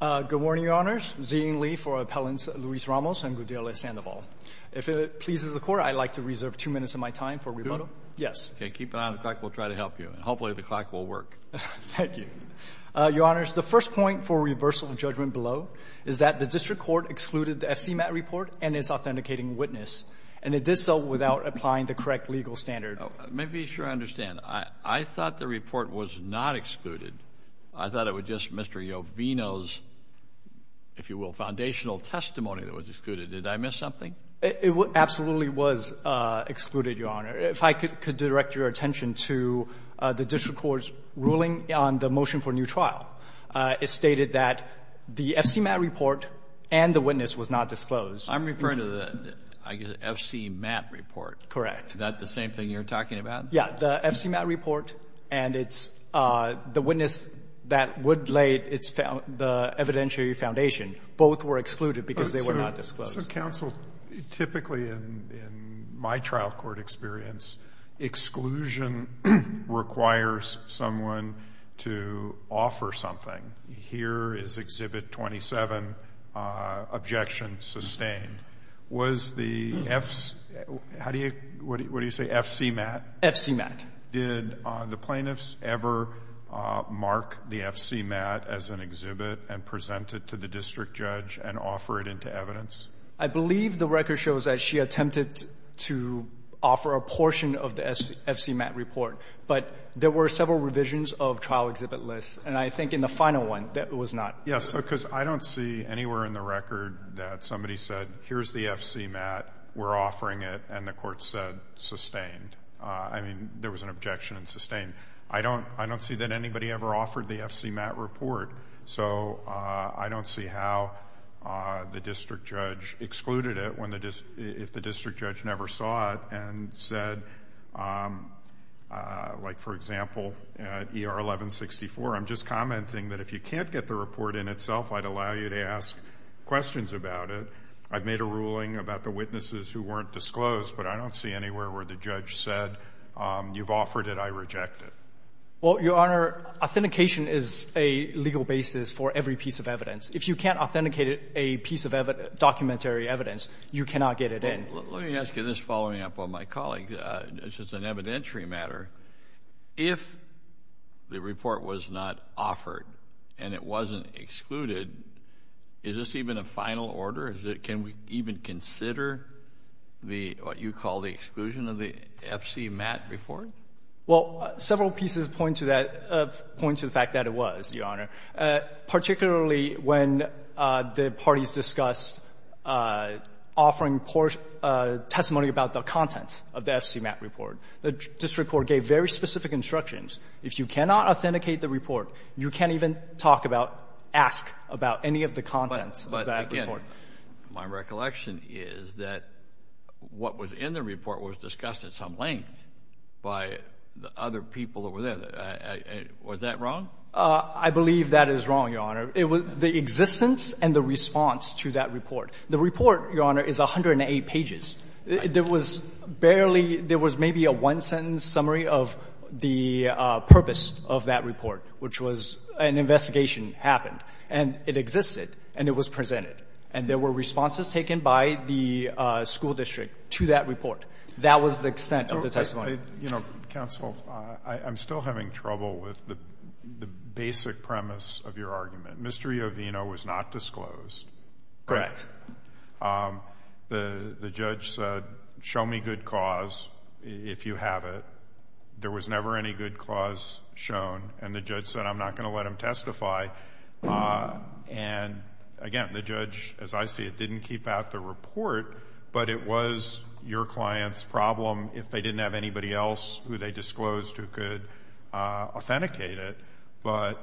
Good morning, Your Honors. Zeng Li for Appellants Luis Ramos and Gudiela Sandoval. If it pleases the Court, I'd like to reserve two minutes of my time for rebuttal. Do it? Yes. Okay, keep it on the clock. We'll try to help you. And hopefully the clock will work. Thank you. Your Honors, the first point for reversal of judgment below is that the District Court excluded the FCMAT report and its authenticating witness. And it did so without applying the correct legal standard. Let me be sure I understand. I thought the report was not excluded. I thought it was just Mr. Jovino's, if you will, foundational testimony that was excluded. Did I miss something? It absolutely was excluded, Your Honor. If I could direct your attention to the District Court's ruling on the motion for new trial. It stated that the FCMAT report and the witness was not disclosed. I'm referring to the FCMAT report. Correct. Is that the same thing you're talking about? Yeah, the FCMAT report and the witness that would lay the evidentiary foundation both were excluded because they were not disclosed. Counsel, typically in my trial court experience, exclusion requires someone to offer something. Here is Exhibit 27, objection sustained. Was the FCMAT, what do you say, FCMAT? FCMAT. Did the plaintiffs ever mark the FCMAT as an exhibit and present it to the district judge and offer it into evidence? I believe the record shows that she attempted to offer a portion of the FCMAT report. But there were several revisions of trial exhibit lists. And I think in the final one, that was not. Yes, because I don't see anywhere in the record that somebody said, here's the FCMAT, we're offering it, and the court said sustained. I mean, there was an objection and sustained. I don't see that anybody ever offered the FCMAT report. So I don't see how the district judge excluded it if the district judge never saw it and said, like, for example, ER 1164. I'm just commenting that if you can't get the report in itself, I'd allow you to ask questions about it. I've made a ruling about the witnesses who weren't disclosed, but I don't see anywhere where the judge said, you've offered it, I reject it. Well, Your Honor, authentication is a legal basis for every piece of evidence. If you can't authenticate a piece of documentary evidence, you cannot get it in. Let me ask you this following up on my colleague. This is an evidentiary matter. If the report was not offered and it wasn't excluded, is this even a final order? Can we even consider what you call the exclusion of the FCMAT report? Well, several pieces point to that, point to the fact that it was, Your Honor, particularly when the parties discussed offering poor testimony about the content of the FCMAT report. The district court gave very specific instructions. If you cannot authenticate the report, you can't even talk about, ask about any of the contents of that report. My recollection is that what was in the report was discussed at some length by the other people over there. Was that wrong? I believe that is wrong, Your Honor. It was the existence and the response to that report. The report, Your Honor, is 108 pages. There was barely, there was maybe a one-sentence summary of the purpose of that report, which was an investigation happened, and it existed, and it was presented. And there were responses taken by the school district to that report. That was the extent of the testimony. You know, counsel, I'm still having trouble with the basic premise of your argument. Mr. Iovino was not disclosed. Correct. The judge said, show me good cause, if you have it. There was never any good cause shown. And the judge said, I'm not going to let him testify. And, again, the judge, as I see it, didn't keep out the report, but it was your client's problem if they didn't have anybody else who they disclosed who could authenticate it. But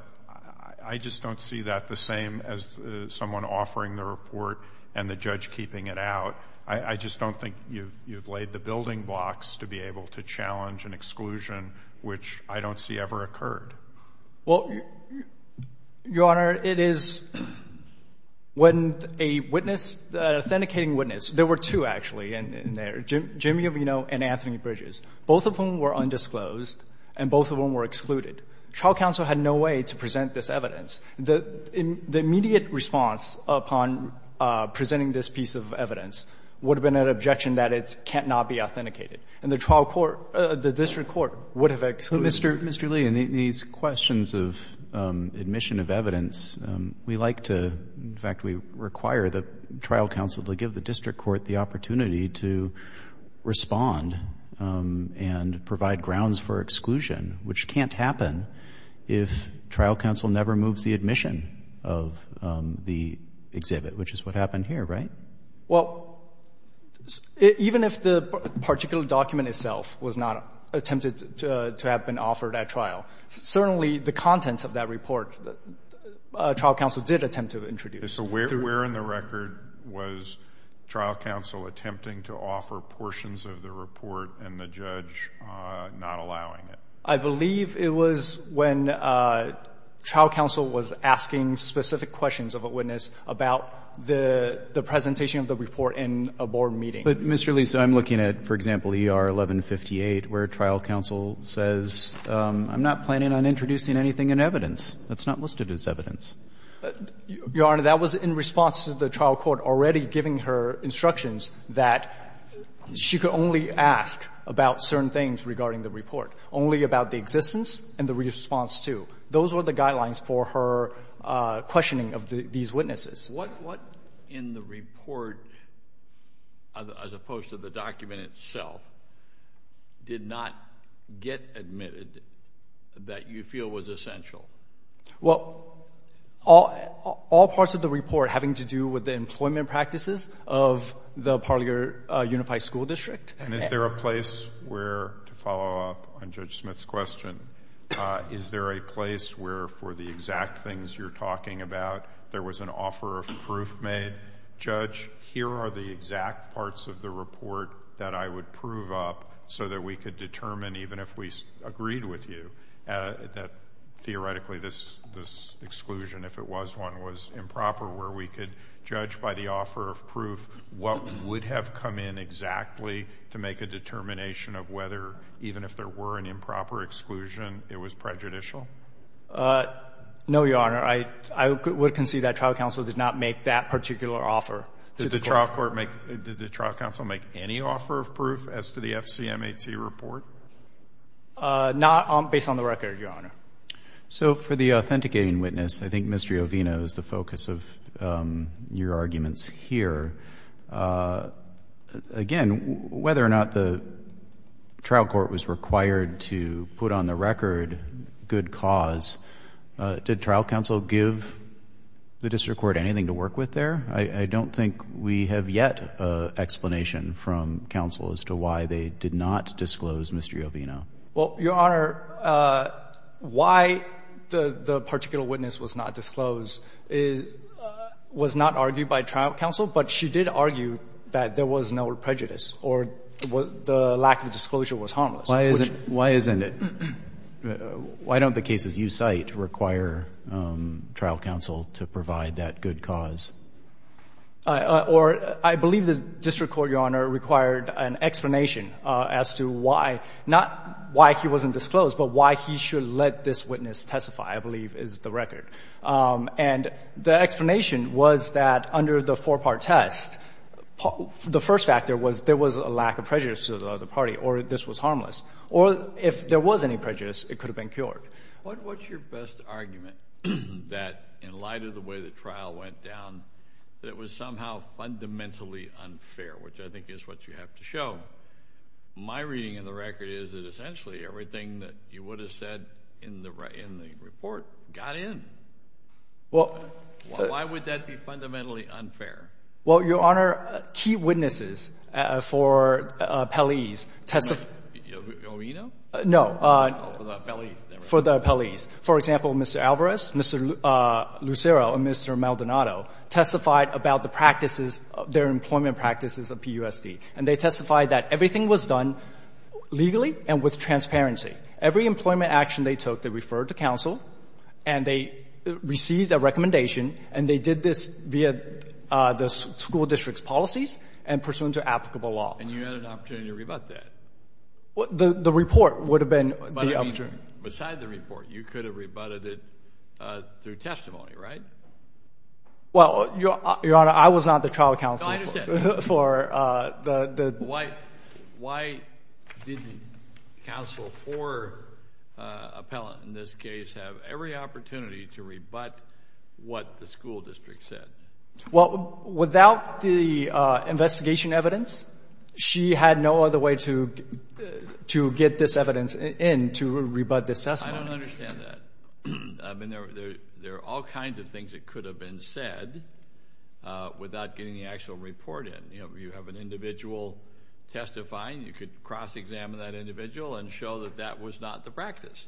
I just don't see that the same as someone offering the report and the judge keeping it out. I just don't think you've laid the building blocks to be able to challenge an exclusion, which I don't see ever occurred. Well, Your Honor, it is when a witness, an authenticating witness, there were two, actually, in there, Jimmy Iovino and Anthony Bridges, both of whom were undisclosed and both of whom were excluded. Trial counsel had no way to present this evidence. The immediate response upon presenting this piece of evidence would have been an objection that it cannot be authenticated. And the trial court, the district court, would have excluded it. So, Mr. Lee, in these questions of admission of evidence, we like to, in fact, we require the trial counsel to give the district court the opportunity to respond and provide grounds for exclusion, which can't happen if trial counsel never moves the admission of the exhibit, which is what happened here, right? Well, even if the particular document itself was not attempted to have been offered at trial, certainly the contents of that report, trial counsel did attempt to introduce. So where in the record was trial counsel attempting to offer portions of the report and the judge not allowing it? I believe it was when trial counsel was asking specific questions of a witness about the presentation of the report in a board meeting. But, Mr. Lee, so I'm looking at, for example, ER 1158, where trial counsel says, I'm not planning on introducing anything in evidence that's not listed as evidence. Your Honor, that was in response to the trial court already giving her instructions that she could only ask about certain things regarding the report, only about the existence and the response to. Those were the guidelines for her questioning of these witnesses. What in the report, as opposed to the document itself, did not get admitted that you feel was essential? Well, all parts of the report having to do with the employment practices of the Parlier Unified School District. And is there a place where, to follow up on Judge Smith's question, is there a place where, for the exact things you're talking about, there was an offer of proof made, Judge, here are the exact parts of the report that I would prove up so that we could determine, even if we agreed with you, that theoretically this exclusion, if it was one, was improper, where we could judge by the offer of proof what would have come in exactly to make a determination of whether, even if there were an improper exclusion, it was prejudicial? No, Your Honor. I would concede that trial counsel did not make that particular offer. Did the trial counsel make any offer of proof as to the FCMAT report? Not based on the record, Your Honor. So for the authenticating witness, I think Mr. Ovino is the focus of your arguments here. Again, whether or not the trial court was required to put on the record good cause, did trial counsel give the district court anything to work with there? I don't think we have yet an explanation from counsel as to why they did not disclose Mr. Ovino. Well, Your Honor, why the particular witness was not disclosed was not argued by trial counsel, but she did argue that there was no prejudice or the lack of disclosure was harmless. Why isn't it? Why don't the cases you cite require trial counsel to provide that good cause? Or I believe the district court, Your Honor, required an explanation as to why, not why he wasn't disclosed, but why he should let this witness testify, I believe, is the record. And the explanation was that under the four-part test, the first factor was there was a lack of prejudice to the other party or this was harmless. Or if there was any prejudice, it could have been cured. What's your best argument that in light of the way the trial went down, that it was somehow fundamentally unfair, which I think is what you have to show? My reading of the record is that essentially everything that you would have said in the report got in. Why would that be fundamentally unfair? Well, Your Honor, key witnesses for appellees testified. No. For the appellees. For example, Mr. Alvarez, Mr. Lucero, and Mr. Maldonado testified about the practices of their employment practices at PUSD. And they testified that everything was done legally and with transparency. Every employment action they took, they referred to counsel and they received a recommendation and they did this via the school district's policies and pursuant to applicable law. And you had an opportunity to rebut that? The report would have been the option. But I mean, besides the report, you could have rebutted it through testimony, right? Well, Your Honor, I was not the trial counsel for the... So why didn't counsel for appellant in this case have every opportunity to rebut what the school district said? Well, without the investigation evidence, she had no other way to get this evidence in to rebut this testimony. I don't understand that. I mean, there are all kinds of things that could have been said without getting the actual report in. You know, you have an individual testifying. You could cross-examine that individual and show that that was not the practice.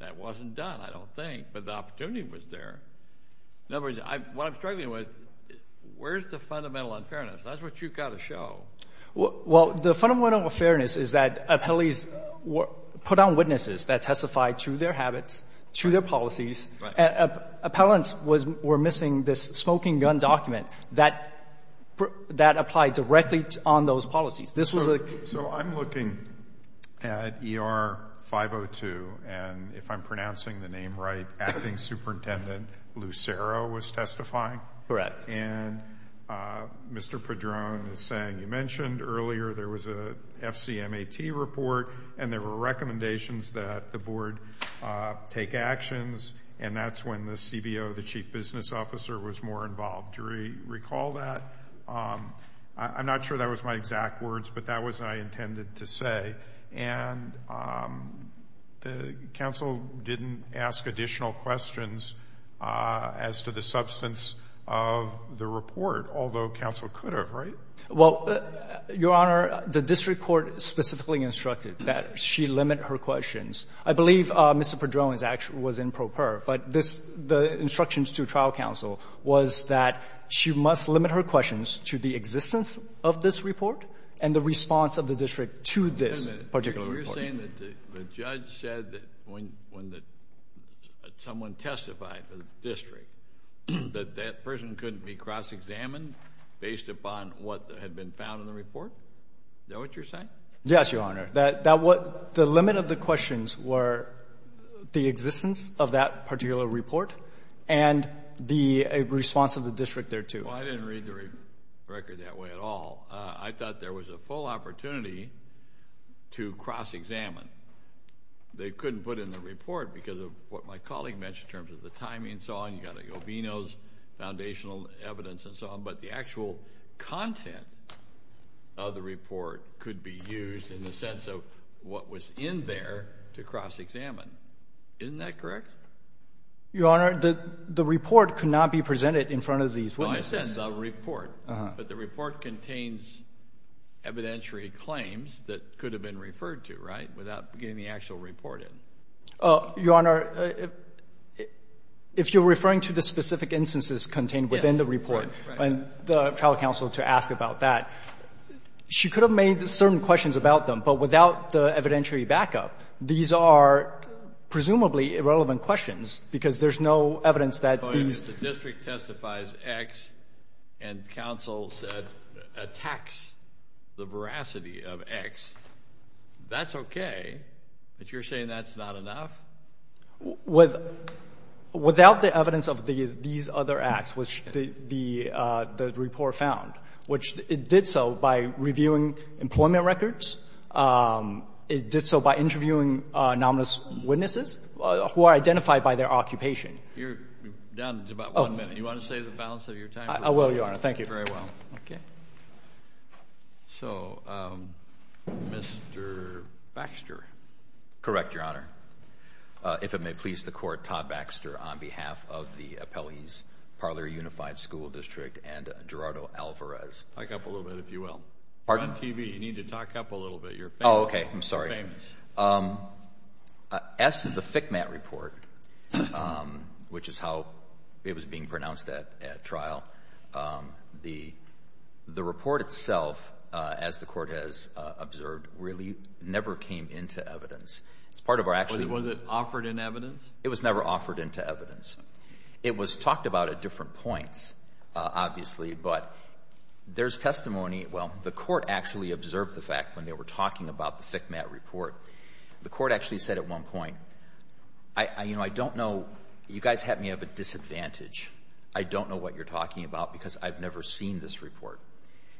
That wasn't done, I don't think. But the opportunity was there. In other words, what I'm struggling with, where's the fundamental unfairness? That's what you've got to show. Well, the fundamental unfairness is that appellees put on witnesses that testified to their habits, to their policies. Appellants were missing this smoking gun document. That applied directly on those policies. This was a... So I'm looking at ER 502, and if I'm pronouncing the name right, Acting Superintendent Lucero was testifying? Correct. And Mr. Padron is saying, you mentioned earlier there was a FCMAT report, and there were recommendations that the Board take actions, and that's when the CBO, the Chief Business Officer, was more involved. Do you recall that? I'm not sure that was my exact words, but that was what I intended to say. And the counsel didn't ask additional questions as to the substance of the report, although counsel could have, right? Well, Your Honor, the district court specifically instructed that she limit her questions. I believe Mr. Padron was in pro per, but the instructions to trial counsel was that she must limit her questions to the existence of this report and the response of the district to this particular report. You're saying that the judge said that when someone testified to the district, that that person couldn't be cross-examined based upon what had been found in the Is that what you're saying? Yes, Your Honor. The limit of the questions were the existence of that particular report and the response of the district thereto. Well, I didn't read the record that way at all. I thought there was a full opportunity to cross-examine. They couldn't put in the report because of what my colleague mentioned in terms of the timing and so on. You've got Obino's foundational evidence and so on. But the actual content of the report could be used in the sense of what was in there to cross-examine. Isn't that correct? Your Honor, the report could not be presented in front of these witnesses. No, I said the report. But the report contains evidentiary claims that could have been referred to, right, without getting the actual report in. Your Honor, if you're referring to the specific instances contained within the report and the trial counsel to ask about that, she could have made certain questions about them. But without the evidentiary backup, these are presumably irrelevant questions because there's no evidence that these The district testifies X and counsel attacks the veracity of X. That's okay. But you're saying that's not enough? Without the evidence of these other acts, which the report found, which it did so by reviewing employment records. It did so by interviewing nominous witnesses who are identified by their occupation. You're down to about one minute. Do you want to say the balance of your time? I will, Your Honor. Thank you. Very well. Okay. So, Mr. Baxter. Correct, Your Honor. If it may please the Court, Todd Baxter on behalf of the Appellees Parlor Unified School District and Gerardo Alvarez. Talk up a little bit, if you will. Pardon? You're on TV. You need to talk up a little bit. Oh, okay. I'm sorry. As to the FCMAT report, which is how it was being pronounced at trial, the report itself, as the Court has observed, really never came into evidence. It's part of our actually Was it offered in evidence? It was never offered into evidence. It was talked about at different points, obviously, but there's testimony. Well, the Court actually observed the fact when they were talking about the FCMAT report. The Court actually said at one point, I don't know. You guys have me at a disadvantage. I don't know what you're talking about because I've never seen this report.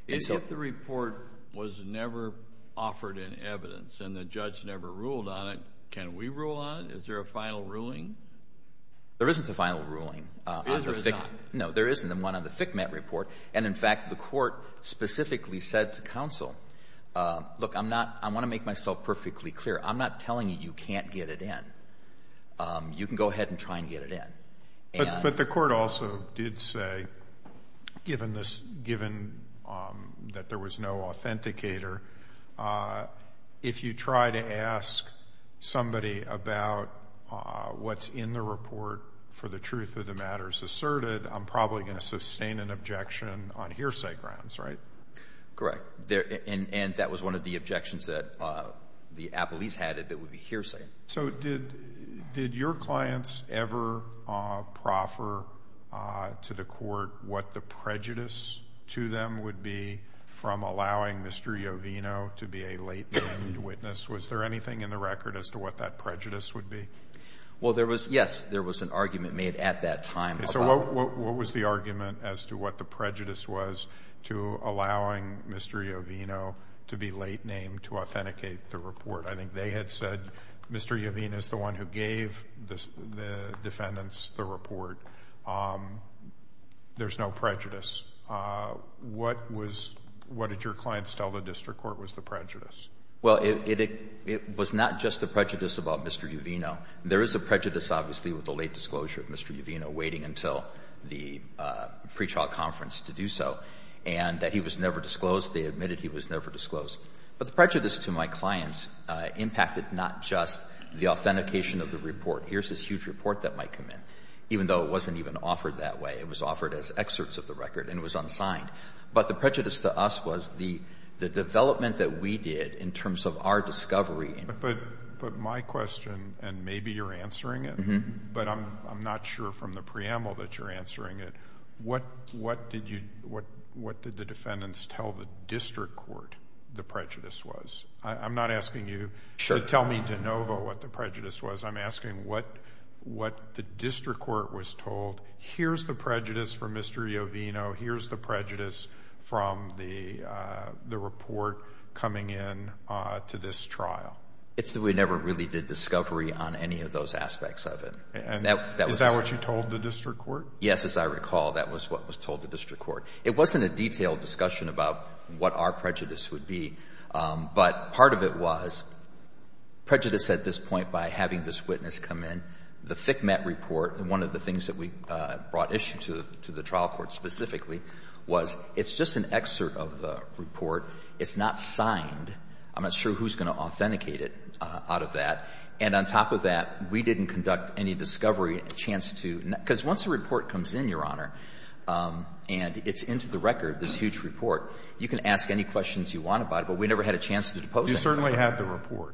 If the report was never offered in evidence and the judge never ruled on it, can we rule on it? Is there a final ruling? There isn't a final ruling. Is there not? No. There isn't one on the FCMAT report. And, in fact, the Court specifically said to counsel, look, I want to make myself perfectly clear. I'm not telling you you can't get it in. You can go ahead and try and get it in. But the Court also did say, given that there was no authenticator, if you try to ask somebody about what's in the report for the truth of the matters asserted, I'm probably going to sustain an objection on hearsay grounds, right? Correct. And that was one of the objections that the appellees had, that it would be hearsay. So did your clients ever proffer to the Court what the prejudice to them would be from allowing Mr. Jovino to be a late-named witness? Was there anything in the record as to what that prejudice would be? Well, there was, yes. There was an argument made at that time. Okay. So what was the argument as to what the prejudice was to allowing Mr. Jovino to be late-named to authenticate the report? I think they had said Mr. Jovino is the one who gave the defendants the report. There's no prejudice. What did your clients tell the district court was the prejudice? Well, it was not just the prejudice about Mr. Jovino. There is a prejudice, obviously, with the late disclosure of Mr. Jovino, waiting until the pretrial conference to do so, and that he was never disclosed. They admitted he was never disclosed. But the prejudice to my clients impacted not just the authentication of the report. Here's this huge report that might come in. Even though it wasn't even offered that way, it was offered as excerpts of the record and it was unsigned. But the prejudice to us was the development that we did in terms of our discovery But my question, and maybe you're answering it, but I'm not sure from the preamble that you're answering it, what did the defendants tell the district court the prejudice was? I'm not asking you to tell me de novo what the prejudice was. I'm asking what the district court was told. Here's the prejudice from Mr. Jovino. Here's the prejudice from the report coming in to this trial. It's that we never really did discovery on any of those aspects of it. Is that what you told the district court? Yes, as I recall, that was what was told the district court. It wasn't a detailed discussion about what our prejudice would be. But part of it was prejudice at this point by having this witness come in. The FCMAT report, one of the things that we brought issue to the trial court specifically, was it's just an excerpt of the report. It's not signed. I'm not sure who's going to authenticate it out of that. And on top of that, we didn't conduct any discovery, a chance to. Because once a report comes in, Your Honor, and it's into the record, this huge report, you can ask any questions you want about it, but we never had a chance to depose it. You certainly had the report.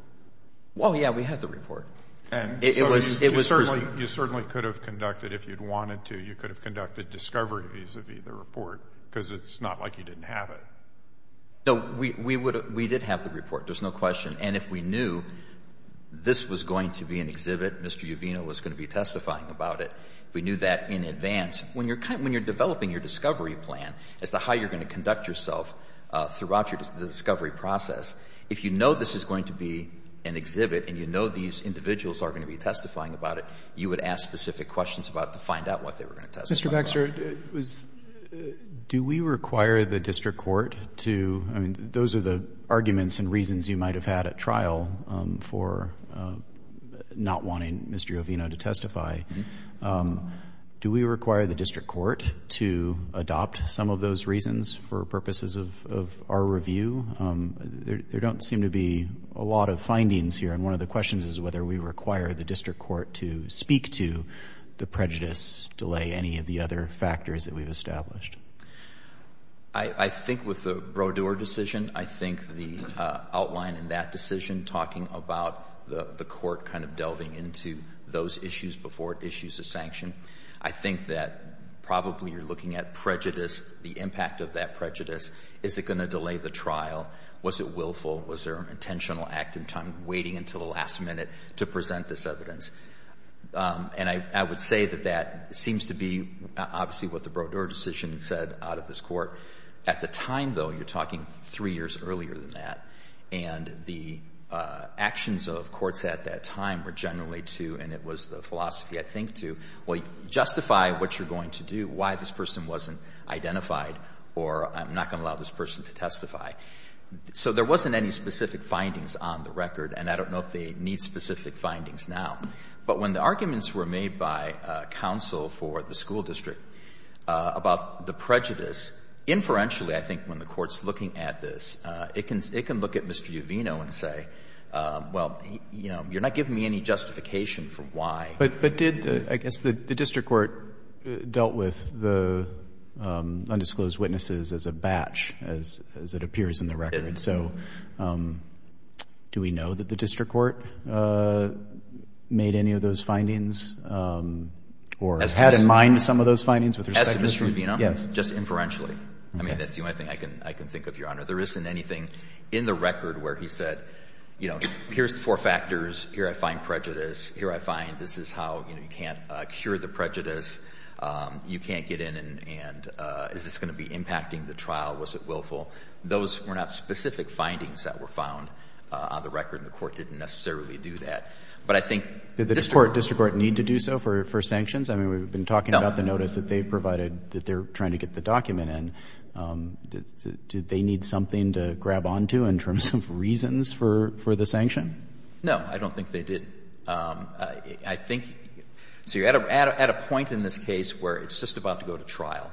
Well, yes, we had the report. And so you certainly could have conducted, if you'd wanted to, you could have conducted discovery vis-a-vis the report because it's not like you didn't have it. No, we did have the report. There's no question. And if we knew this was going to be an exhibit, Mr. Uvino was going to be testifying about it, if we knew that in advance, when you're developing your discovery plan as to how you're going to conduct yourself throughout the discovery process, if you know this is going to be an exhibit and you know these individuals are going to be testifying about it, you would ask specific questions about it to find out what they were going to testify about. Mr. Baxter, do we require the district court to – I mean, those are the arguments and reasons you might have had at trial for not wanting Mr. Uvino to testify. Do we require the district court to adopt some of those reasons for purposes of our review? There don't seem to be a lot of findings here, and one of the questions is whether we require the district court to speak to the prejudice delay, any of the other factors that we've established. I think with the Brodeur decision, I think the outline in that decision, talking about the court kind of delving into those issues before it issues a sanction, I think that probably you're looking at prejudice, the impact of that prejudice. Is it going to delay the trial? Was it willful? Was there an intentional act in time waiting until the last minute to present this evidence? And I would say that that seems to be obviously what the Brodeur decision said out of this court. At the time, though, you're talking three years earlier than that, and the actions of courts at that time were generally to, and it was the philosophy I think to, well, justify what you're going to do, why this person wasn't identified, or I'm not going to allow this person to testify. So there wasn't any specific findings on the record, and I don't know if they need specific findings now. But when the arguments were made by counsel for the school district about the prejudice, inferentially I think when the Court's looking at this, it can look at Mr. Uvino and say, well, you know, you're not giving me any justification for why. But did, I guess, the district court dealt with the undisclosed witnesses as a batch as it appears in the record? It did. So do we know that the district court made any of those findings or had in mind some of those findings? As Mr. Uvino? Yes. Just inferentially. I mean, that's the only thing I can think of, Your Honor. There isn't anything in the record where he said, you know, here's the four factors, here I find prejudice, here I find this is how, you know, you can't cure the prejudice, you can't get in and is this going to be impacting the trial, was it willful? Those were not specific findings that were found on the record, and the Court didn't necessarily do that. But I think district court. Did the district court need to do so for sanctions? I mean, we've been talking about the notice that they provided that they're trying to get the document in. Did they need something to grab onto in terms of reasons for the sanction? No. I don't think they did. I think you're at a point in this case where it's just about to go to trial.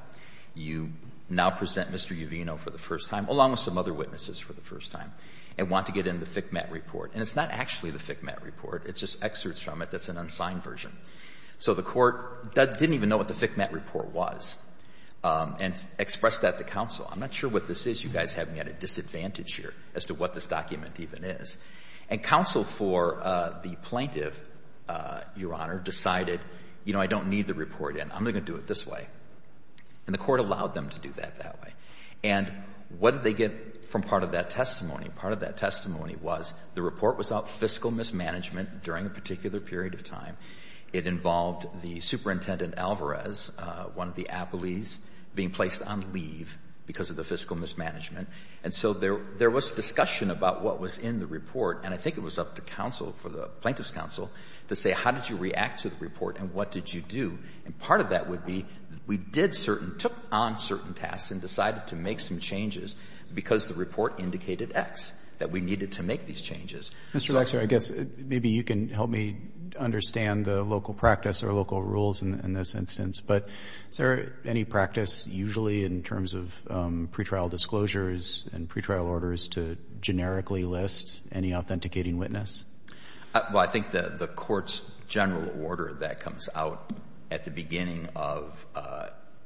You now present Mr. Uvino for the first time, along with some other witnesses for the first time, and want to get in the FCMAT report. And it's not actually the FCMAT report. It's just excerpts from it that's an unsigned version. So the Court didn't even know what the FCMAT report was and expressed that to counsel. I'm not sure what this is. You guys have me at a disadvantage here as to what this document even is. And counsel for the plaintiff, Your Honor, decided, you know, I don't need the report in. I'm going to do it this way. And the Court allowed them to do that that way. And what did they get from part of that testimony? Part of that testimony was the report was about fiscal mismanagement during a particular period of time. It involved the Superintendent Alvarez, one of the appellees, being placed on leave because of the fiscal mismanagement. And so there was discussion about what was in the report. And I think it was up to counsel for the plaintiff's counsel to say how did you react to the report and what did you do. And part of that would be we did certain, took on certain tasks and decided to make some changes because the report indicated X, that we needed to make these changes. Mr. Lexner, I guess maybe you can help me understand the local practice or local rules in this instance. But is there any practice usually in terms of pretrial disclosures and pretrial orders to generically list any authenticating witness? Well, I think the Court's general order that comes out at the beginning of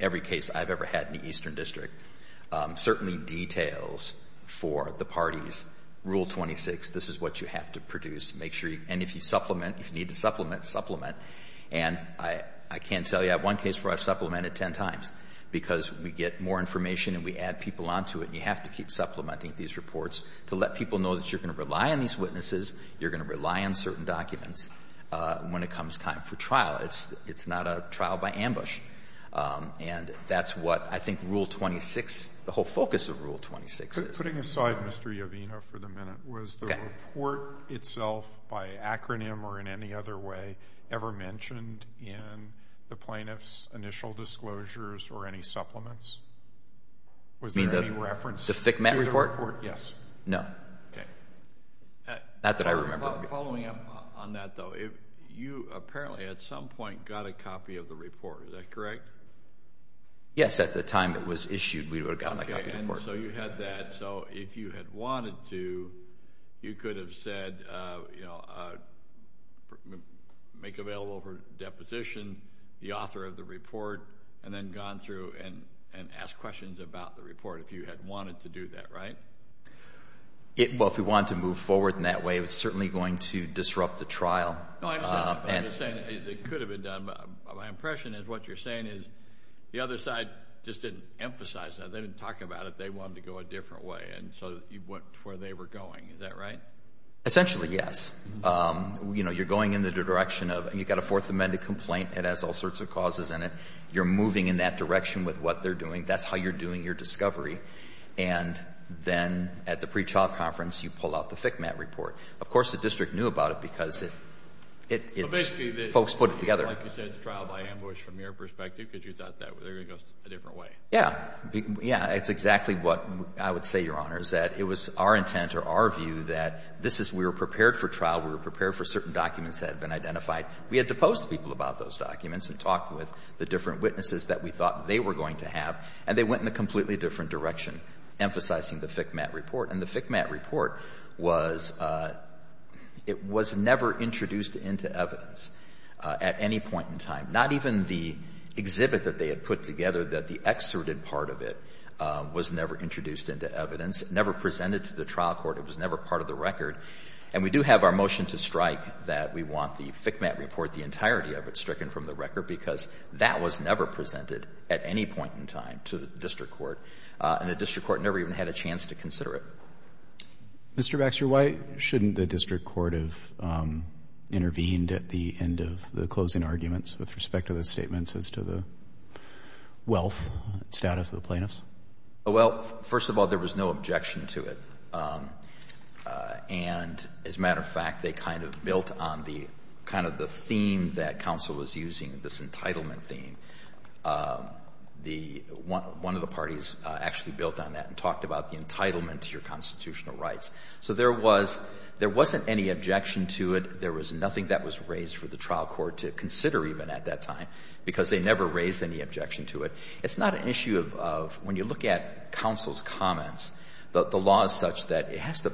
every case I've ever had in the Eastern District certainly details for the parties Rule 26, this is what you have to produce. And if you supplement, if you need to supplement, supplement. And I can't tell you. I have one case where I've supplemented ten times because we get more information and we add people onto it and you have to keep supplementing these reports to let people know that you're going to rely on these witnesses, you're going to rely on certain documents when it comes time for trial. It's not a trial by ambush. And that's what I think Rule 26, the whole focus of Rule 26 is. Just putting aside Mr. Iovino for the minute, was the report itself by acronym or in any other way ever mentioned in the plaintiff's initial disclosures or any supplements? Was there any reference to the report? You mean the FCMAT report? Yes. No. Okay. Not that I remember. Following up on that though, you apparently at some point got a copy of the report. Is that correct? Yes, at the time it was issued we would have gotten a copy of the report. So you had that. So if you had wanted to, you could have said, make available for deposition the author of the report and then gone through and asked questions about the report if you had wanted to do that, right? Well, if we wanted to move forward in that way it was certainly going to disrupt the trial. I'm just saying it could have been done. My impression is what you're saying is the other side just didn't emphasize that. They didn't talk about it. They wanted to go a different way and so you went to where they were going. Is that right? Essentially, yes. You're going in the direction of you've got a Fourth Amendment complaint. It has all sorts of causes in it. You're moving in that direction with what they're doing. That's how you're doing your discovery and then at the pre-trial conference you pull out the FCMAT report. Of course, the district knew about it because folks put it together. Like you said, it's a trial by ambush from your perspective because you thought they were going to go a different way. Yes. Yes. It's exactly what I would say, Your Honor, is that it was our intent or our view that this is we were prepared for trial. We were prepared for certain documents that had been identified. We had to post to people about those documents and talk with the different witnesses that we thought they were going to have and they went in a completely different direction, emphasizing the FCMAT report. And the FCMAT report was never introduced into evidence at any point in time. Not even the exhibit that they had put together that the excerpted part of it was never introduced into evidence, never presented to the trial court. It was never part of the record. And we do have our motion to strike that we want the FCMAT report, the entirety of it, stricken from the record because that was never presented at any point in time to the district court. And the district court never even had a chance to consider it. Mr. Baxter, why shouldn't the district court have intervened at the end of the closing arguments with respect to the statements as to the wealth status of the plaintiffs? Well, first of all, there was no objection to it. And as a matter of fact, they kind of built on the kind of the theme that counsel was using, this entitlement theme. One of the parties actually built on that and talked about the entitlement to your constitutional rights. So there wasn't any objection to it. There was nothing that was raised for the trial court to consider even at that time because they never raised any objection to it. It's not an issue of when you look at counsel's comments, the law is such that it has to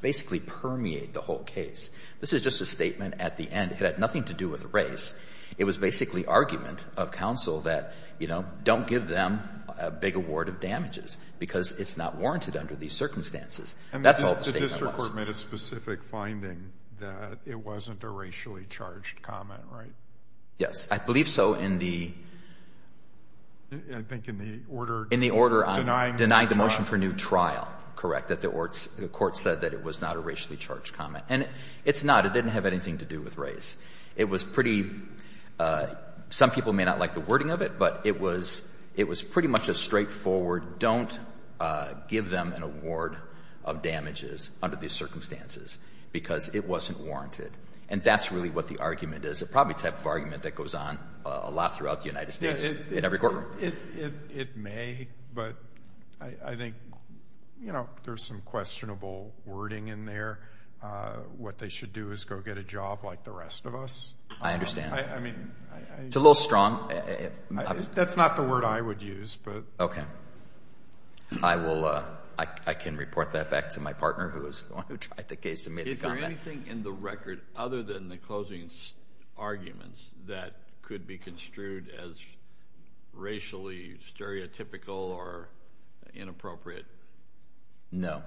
basically permeate the whole case. This is just a statement at the end. It had nothing to do with race. It was basically argument of counsel that, you know, don't give them a big award of damages because it's not warranted under these circumstances. That's all the statement was. The court made a specific finding that it wasn't a racially charged comment, right? Yes. I believe so in the order on denying the motion for new trial, correct, that the court said that it was not a racially charged comment. And it's not. It didn't have anything to do with race. It was pretty – some people may not like the wording of it, but it was pretty much a straightforward don't give them an award of damages under these circumstances because it wasn't warranted. And that's really what the argument is. It's probably the type of argument that goes on a lot throughout the United States in every courtroom. It may, but I think, you know, there's some questionable wording in there. What they should do is go get a job like the rest of us. I understand. I mean – It's a little strong. That's not the word I would use, but – I will – I can report that back to my partner who is the one who tried the case and made the comment. Is there anything in the record other than the closing arguments that could be construed as racially stereotypical or inappropriate? No.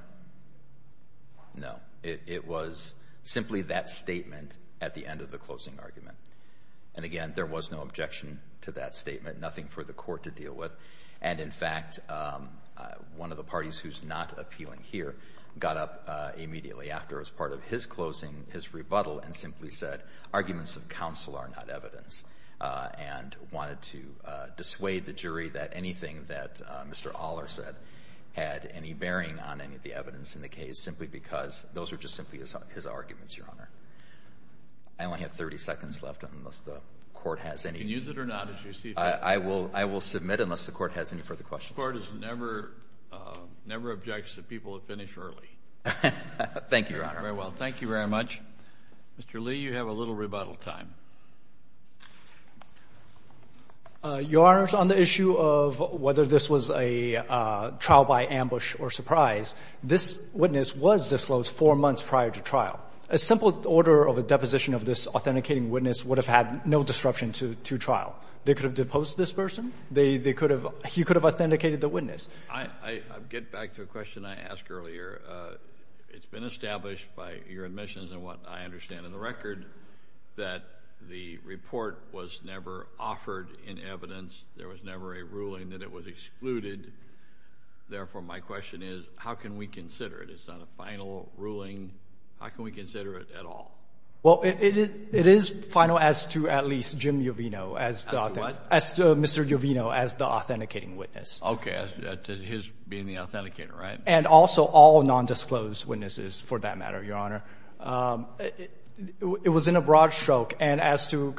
No. It was simply that statement at the end of the closing argument. And again, there was no objection to that statement. Nothing for the court to deal with. And in fact, one of the parties who's not appealing here got up immediately after as part of his closing, his rebuttal, and simply said arguments of counsel are not evidence and wanted to dissuade the jury that anything that Mr. Aller said had any bearing on any of the evidence in the case simply because those were just simply his arguments, Your Honor. I only have 30 seconds left unless the court has any – You can use it or not as you see fit. I will submit unless the court has any further questions. The court never objects to people who finish early. Thank you, Your Honor. Very well. Thank you very much. Mr. Lee, you have a little rebuttal time. Your Honors, on the issue of whether this was a trial by ambush or surprise, this witness was disclosed four months prior to trial. A simple order of a deposition of this authenticating witness would have had no disruption to trial. They could have deposed this person. They could have – he could have authenticated the witness. I get back to a question I asked earlier. It's been established by your admissions and what I understand in the record that the report was never offered in evidence. There was never a ruling that it was excluded. Therefore, my question is how can we consider it? It's not a final ruling. How can we consider it at all? Well, it is final as to at least Jim Uvino as the – As to what? As to Mr. Uvino as the authenticating witness. Okay. As to his being the authenticator, right? And also all nondisclosed witnesses for that matter, Your Honor. It was in a broad stroke. And as to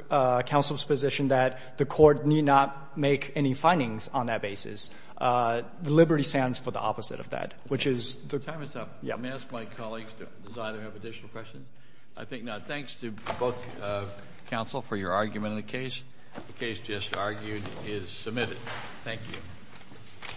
counsel's position that the court need not make any findings on that basis, the liberty stands for the opposite of that, which is the – Time is up. May I ask my colleagues, does either have additional questions? I think not. Thanks to both counsel for your argument in the case. The case just argued is submitted. Thank you.